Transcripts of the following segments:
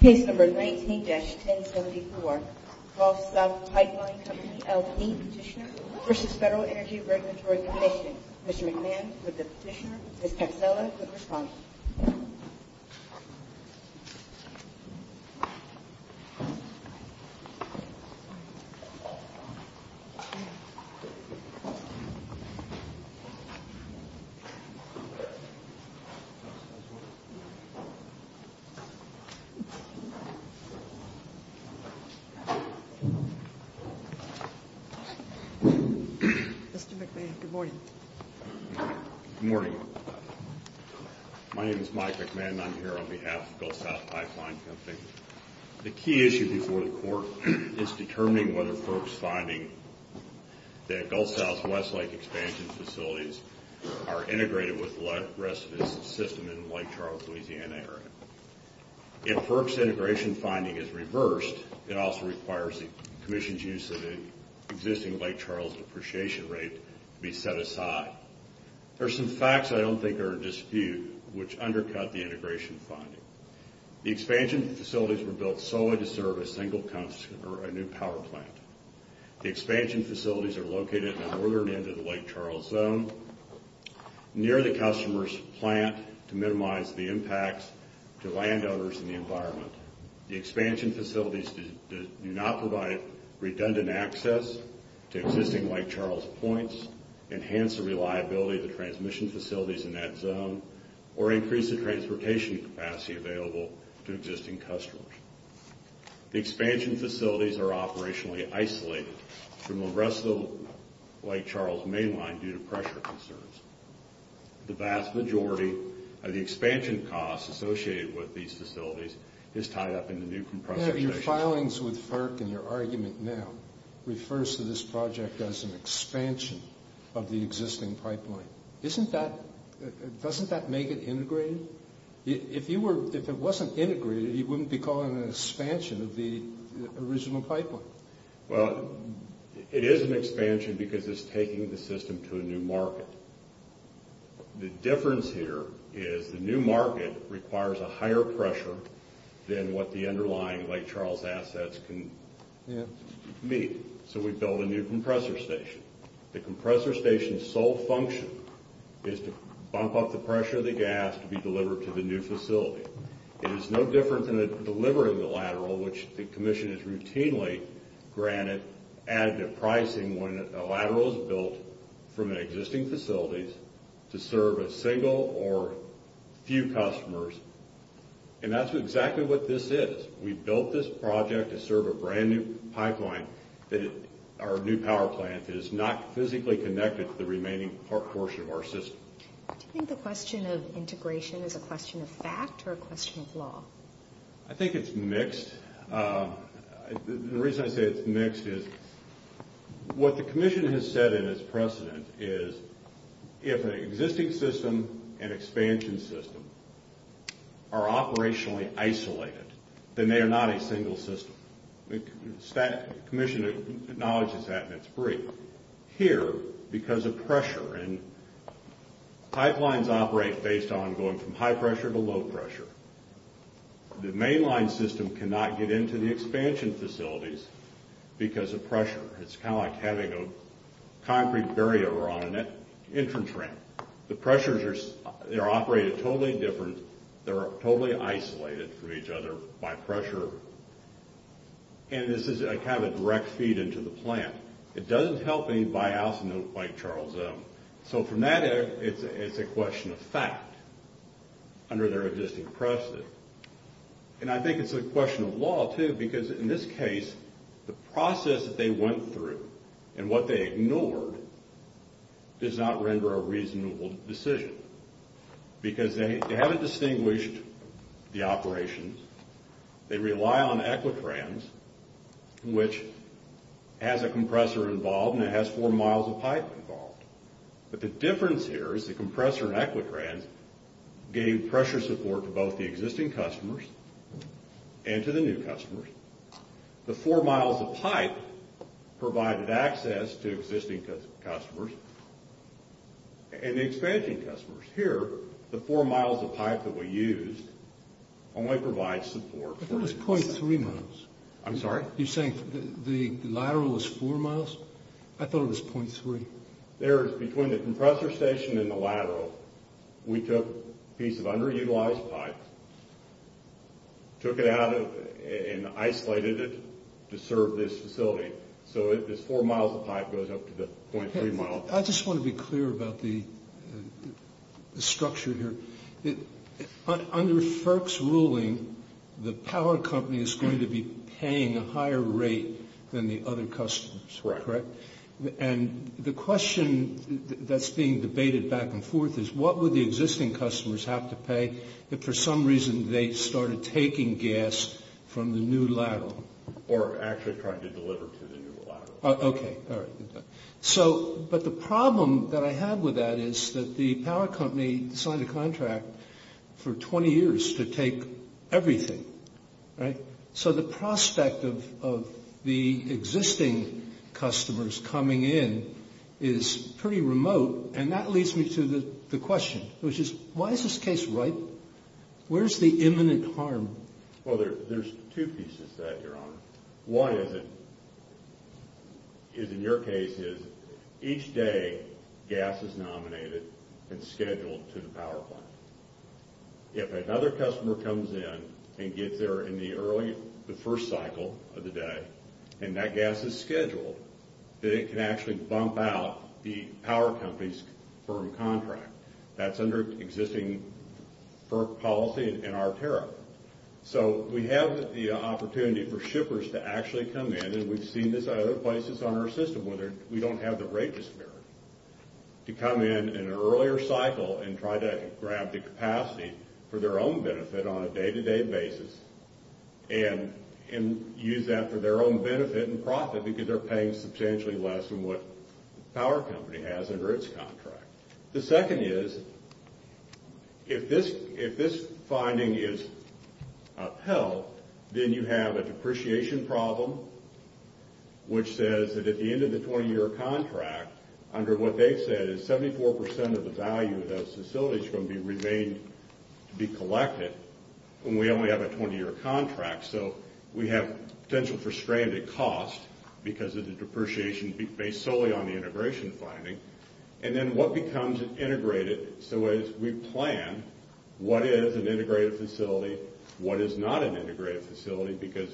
Case No. 19-1074, Gulf South Pipeline Company LP Petitioner v. FEDERAL ENERGY REGULATORY COMMISSION Mr. McMahon, with the petitioner, Ms. Kapsela, with the respondent. Good morning. My name is Mike McMahon and I'm here on behalf of Gulf South Pipeline Company. The key issue before the court is determining whether FERC's finding that Gulf South West Lake expansion facilities are integrated with the rest of its system in the Lake Charles, Louisiana area. If FERC's integration finding is reversed, it also requires the commission's use of an existing Lake Charles depreciation rate to be set aside. There are some facts I don't think are in dispute which undercut the integration finding. The expansion facilities were built solely to serve a single power plant. The expansion facilities are located in the northern end of the Lake Charles zone near the customer's plant to minimize the impacts to landowners and the environment. The expansion facilities do not provide redundant access to existing Lake Charles points, enhance the reliability of the transmission facilities in that zone, or increase the transportation capacity available to existing customers. The expansion facilities are operationally isolated from the rest of the Lake Charles mainline due to pressure concerns. The vast majority of the expansion costs associated with these facilities is tied up in the new compression stations. Your filings with FERC and your argument now refers to this project as an expansion of the existing pipeline. Doesn't that make it integrated? If it wasn't integrated, you wouldn't be calling it an expansion of the original pipeline. Well, it is an expansion because it's taking the system to a new market. The difference here is the new market requires a higher pressure than what the underlying Lake Charles assets can meet. So we build a new compressor station. The compressor station's sole function is to bump up the pressure of the gas to be delivered to the new facility. It is no different than delivering the lateral, which the commission has routinely granted additive pricing when a lateral is built from existing facilities to serve a single or few customers. And that's exactly what this is. We built this project to serve a brand new pipeline that our new power plant is not physically connected to the remaining portion of our system. Do you think the question of integration is a question of fact or a question of law? I think it's mixed. The reason I say it's mixed is what the commission has said in its precedent is if an existing system and expansion system are operationally isolated, then they are not a single system. The commission acknowledges that and it's brief. Here, because of pressure, and pipelines operate based on going from high pressure to low pressure. The mainline system cannot get into the expansion facilities because of pressure. It's kind of like having a concrete barrier on an entrance ramp. The pressures are operated totally different. They are totally isolated from each other by pressure. And this is kind of a direct feed into the plant. It doesn't help any biocenote like Charles M. So from that, it's a question of fact under their existing precedent. And I think it's a question of law, too, because in this case, the process that they went through and what they ignored does not render a reasonable decision. Because they haven't distinguished the operations. They rely on Equitrans, which has a compressor involved and it has four miles of pipe involved. But the difference here is the compressor in Equitrans gave pressure support to both the existing customers and to the new customers. The four miles of pipe provided access to existing customers and the expanding customers. Here, the four miles of pipe that we used only provides support. I thought it was .3 miles. I'm sorry? You're saying the lateral is four miles? I thought it was .3. There is between the compressor station and the lateral. We took a piece of underutilized pipe, took it out and isolated it to serve this facility. So this four miles of pipe goes up to the .3 miles. I just want to be clear about the structure here. Under FERC's ruling, the power company is going to be paying a higher rate than the other customers, correct? Right. And the question that's being debated back and forth is what would the existing customers have to pay if for some reason they started taking gas from the new lateral? Or actually trying to deliver to the new lateral. Okay. All right. But the problem that I have with that is that the power company signed a contract for 20 years to take everything, right? So the prospect of the existing customers coming in is pretty remote. And that leads me to the question, which is why is this case ripe? Where is the imminent harm? Well, there's two pieces to that, Your Honor. One is in your case is each day gas is nominated and scheduled to the power plant. If another customer comes in and gets there in the first cycle of the day and that gas is scheduled, then it can actually bump out the power company's firm contract. That's under existing FERC policy and our tariff. So we have the opportunity for shippers to actually come in, and we've seen this at other places on our system where we don't have the rate disparity, to come in an earlier cycle and try to grab the capacity for their own benefit on a day-to-day basis and use that for their own benefit and profit because they're paying substantially less than what the power company has under its contract. The second is if this finding is upheld, then you have a depreciation problem, which says that at the end of the 20-year contract, under what they've said, is 74% of the value of those facilities are going to be remained to be collected when we only have a 20-year contract. So we have potential for stranded cost because of the depreciation based solely on the integration finding. And then what becomes integrated? So as we plan, what is an integrated facility, what is not an integrated facility? Because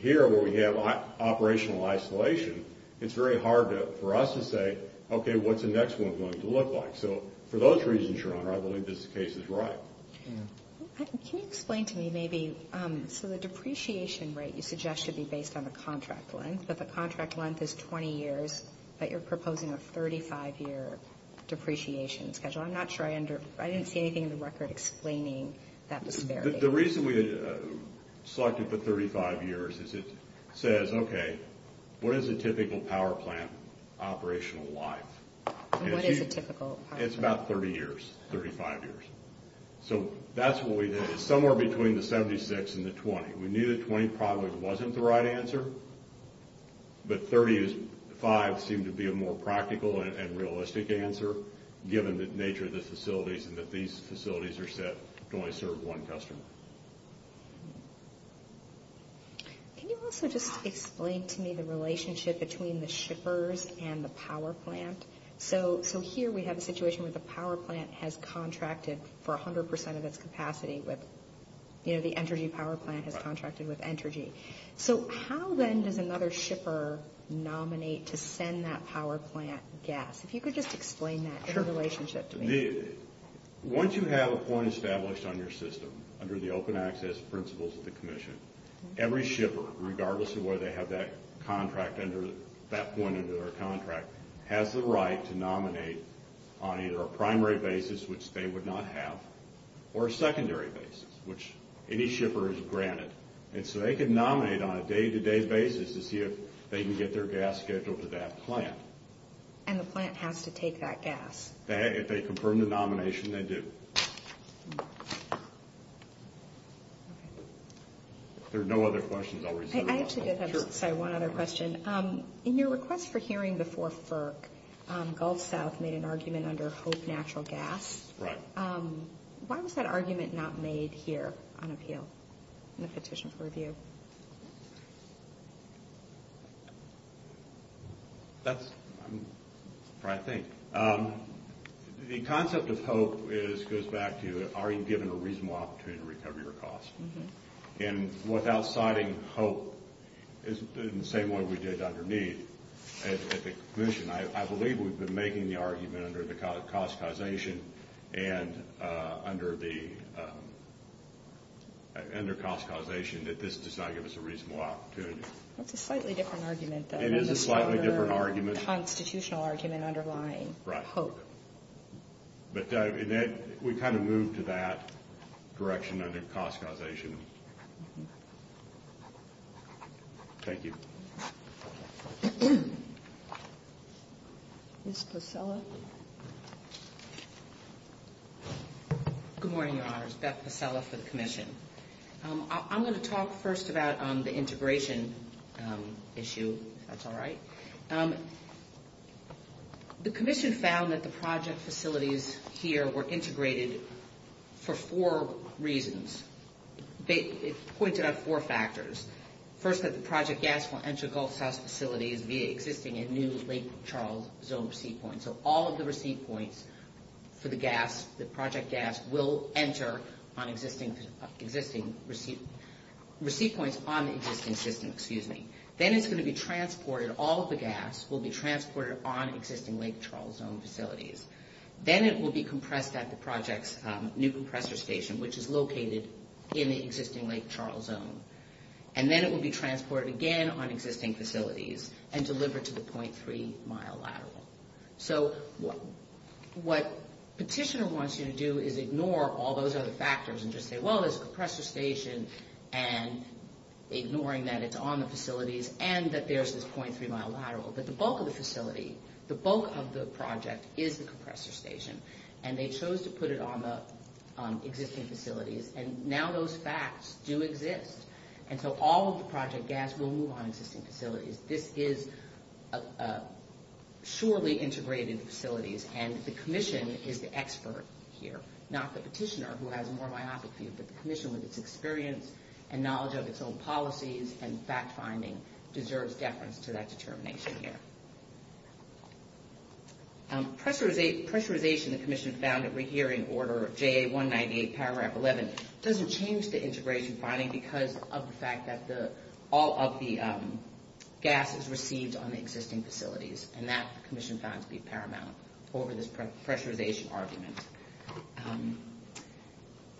here where we have operational isolation, it's very hard for us to say, okay, what's the next one going to look like? So for those reasons, Your Honor, I believe this case is right. Can you explain to me maybe, so the depreciation rate you suggest should be based on the contract length, but the contract length is 20 years, but you're proposing a 35-year depreciation schedule. I'm not sure I under – I didn't see anything in the record explaining that disparity. The reason we selected the 35 years is it says, okay, what is a typical power plant operational life? What is a typical power plant? It's about 30 years, 35 years. So that's what we did. It's somewhere between the 76 and the 20. We knew the 20 probably wasn't the right answer, but 35 seemed to be a more practical and realistic answer given the nature of the facilities and that these facilities are set to only serve one customer. Can you also just explain to me the relationship between the shippers and the power plant? So here we have a situation where the power plant has contracted for 100 percent of its capacity with – you know, the Entergy power plant has contracted with Entergy. So how then does another shipper nominate to send that power plant gas? If you could just explain that in relationship to me. Once you have a point established on your system under the open access principles of the commission, every shipper, regardless of whether they have that contract under – that point under their contract, has the right to nominate on either a primary basis, which they would not have, or a secondary basis, which any shipper is granted. And so they can nominate on a day-to-day basis to see if they can get their gas scheduled to that plant. And the plant has to take that gas? If they confirm the nomination, they do. If there are no other questions, I'll resume. I actually did have one other question. In your request for hearing before FERC, Gulf South made an argument under Hope Natural Gas. Right. Why was that argument not made here on appeal in the petition for review? That's what I think. The concept of Hope goes back to are you given a reasonable opportunity to recover your costs? And without citing Hope, in the same way we did underneath at the commission, I believe we've been making the argument under the cost causation and under the – does not give us a reasonable opportunity. That's a slightly different argument, though. It is a slightly different argument. Constitutional argument underlying Hope. Right. But we kind of moved to that direction under cost causation. Thank you. Ms. Pasella. Good morning, Your Honors. Beth Pasella for the commission. I'm going to talk first about the integration issue, if that's all right. The commission found that the project facilities here were integrated for four reasons. It pointed out four factors. First, that the project gas will enter Gulf South's facilities via existing and new Lake Charles zone receipt points. So all of the receipt points for the gas, the project gas, will enter on existing receipt points on the existing system. Then it's going to be transported, all of the gas will be transported on existing Lake Charles zone facilities. Then it will be compressed at the project's new compressor station, which is located in the existing Lake Charles zone. And then it will be transported again on existing facilities and delivered to the .3-mile lateral. So what Petitioner wants you to do is ignore all those other factors and just say, well, there's a compressor station, and ignoring that it's on the facilities and that there's this .3-mile lateral. But the bulk of the facility, the bulk of the project is the compressor station, and they chose to put it on the existing facilities, and now those facts do exist. And so all of the project gas will move on existing facilities. This is surely integrated facilities, and the commission is the expert here, not the petitioner who has a more myopic view, but the commission with its experience and knowledge of its own policies and fact-finding deserves deference to that determination here. Pressurization, the commission found it here in order of JA-198-111, doesn't change the integration finding because of the fact that all of the gas is received on the existing facilities, and that the commission found to be paramount over this pressurization argument.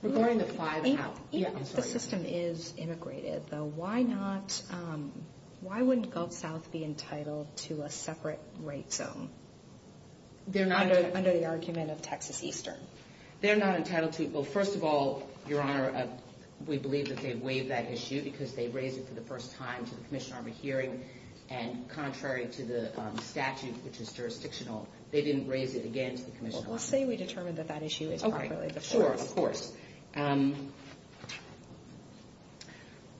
Regarding the five... If the system is immigrated, though, why not... Why wouldn't Gulf South be entitled to a separate right zone? They're not... Under the argument of Texas Eastern. They're not entitled to... Well, first of all, Your Honor, we believe that they waived that issue because they raised it for the first time to the Commission on Rehearing, and contrary to the statute, which is jurisdictional, they didn't raise it again to the Commission on Rehearing. Well, say we determine that that issue is properly... Okay, sure, of course.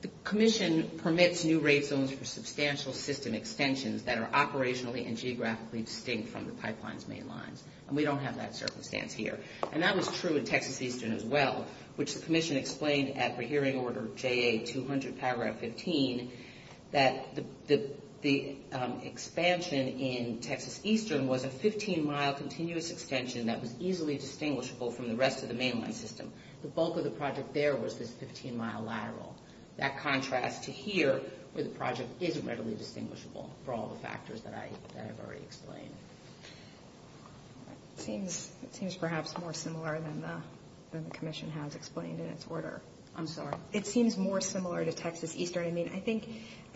The commission permits new rate zones for substantial system extensions that are operationally and geographically distinct from the pipeline's main lines, and we don't have that circumstance here. And that was true in Texas Eastern as well, which the commission explained at Rehearing Order JA-200, paragraph 15, that the expansion in Texas Eastern was a 15-mile continuous extension that was easily distinguishable from the rest of the mainline system. The bulk of the project there was this 15-mile lateral. That contrasts to here, where the project isn't readily distinguishable for all the factors that I've already explained. It seems perhaps more similar than the commission has explained in its order. I'm sorry. It seems more similar to Texas Eastern. I mean, I think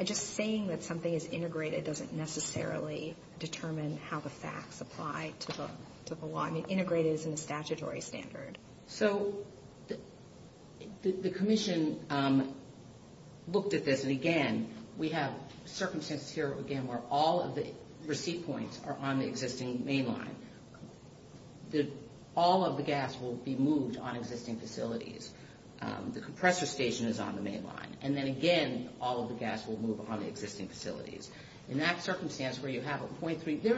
just saying that something is integrated doesn't necessarily determine how the facts apply to the law. I mean, integrated isn't a statutory standard. So the commission looked at this. And, again, we have circumstances here, again, where all of the receipt points are on the existing mainline. All of the gas will be moved on existing facilities. The compressor station is on the mainline. And then, again, all of the gas will move on the existing facilities. In that circumstance where you have a 0.3, there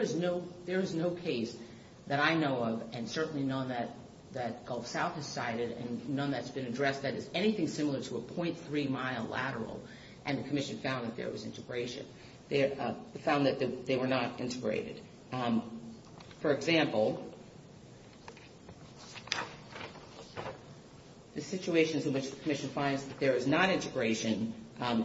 is no case that I know of and certainly none that Gulf South has cited and none that's been addressed that is anything similar to a 0.3-mile lateral. And the commission found that there was integration. They found that they were not integrated. For example, the situations in which the commission finds that there is not integration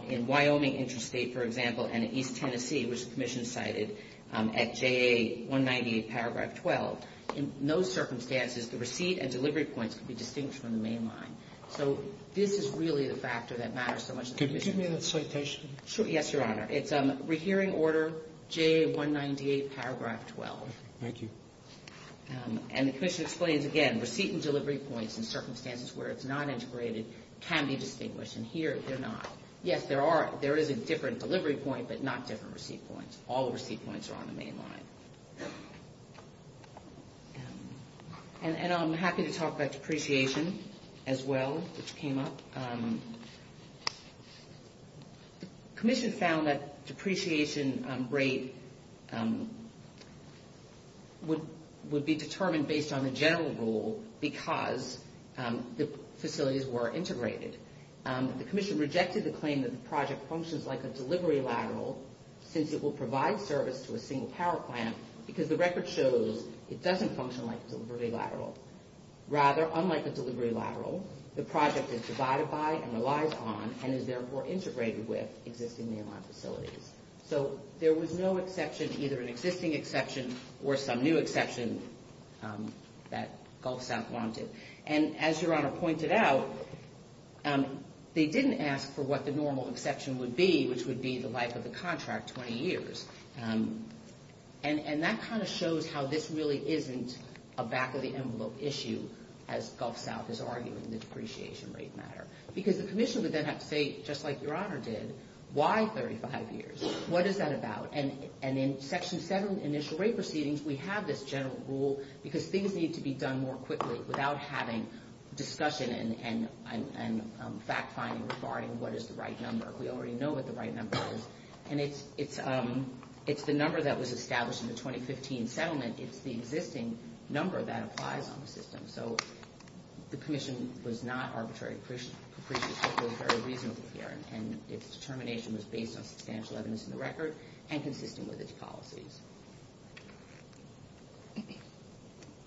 in Wyoming Interstate, for example, and in East Tennessee, which the commission cited at JA198, Paragraph 12. In those circumstances, the receipt and delivery points could be distinguished from the mainline. So this is really the factor that matters so much to the commission. Could you give me that citation? Yes, Your Honor. It's Rehearing Order, JA198, Paragraph 12. Thank you. And the commission explains, again, receipt and delivery points in circumstances where it's not integrated can be distinguished, and here they're not. Yes, there is a different delivery point, but not different receipt points. All the receipt points are on the mainline. And I'm happy to talk about depreciation as well, which came up. The commission found that depreciation rate would be determined based on the general rule because the facilities were integrated. The commission rejected the claim that the project functions like a delivery lateral since it will provide service to a single power plant because the record shows it doesn't function like a delivery lateral. Rather, unlike a delivery lateral, the project is divided by and relies on and is therefore integrated with existing mainline facilities. So there was no exception, either an existing exception or some new exception that Gulf South wanted. And as Your Honor pointed out, they didn't ask for what the normal exception would be, which would be the life of the contract, 20 years. And that kind of shows how this really isn't a back-of-the-envelope issue, as Gulf South is arguing the depreciation rate matter. Because the commission would then have to say, just like Your Honor did, why 35 years? What is that about? And in Section 7, Initial Rate Proceedings, we have this general rule because things need to be done more quickly without having discussion and fact-finding regarding what is the right number. We already know what the right number is. And it's the number that was established in the 2015 settlement. It's the existing number that applies on the system. So the commission was not arbitrary depreciation. It was very reasonable here. And its determination was based on substantial evidence in the record and consistent with its policies.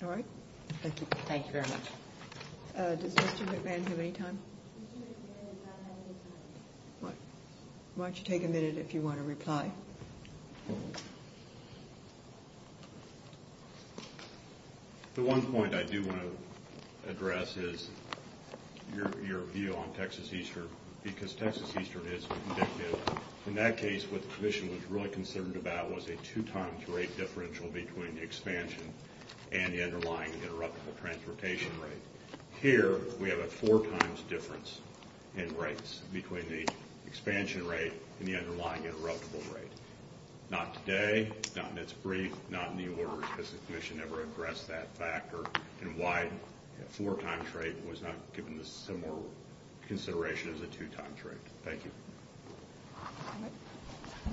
All right. Thank you. Thank you very much. Does Mr. McMahon have any time? Mr. McMahon does not have any time. Why don't you take a minute if you want to reply? The one point I do want to address is your view on Texas-Eastern. Because Texas-Eastern is conductive. In that case, what the commission was really concerned about was a two-times rate differential between the expansion and the underlying interruptible transportation rate. Here, we have a four-times difference in rates between the expansion rate and the underlying interruptible rate. Not today, not in its brief, not in the order because the commission never addressed that factor and why a four-times rate was not given the similar consideration as a two-times rate. Thank you.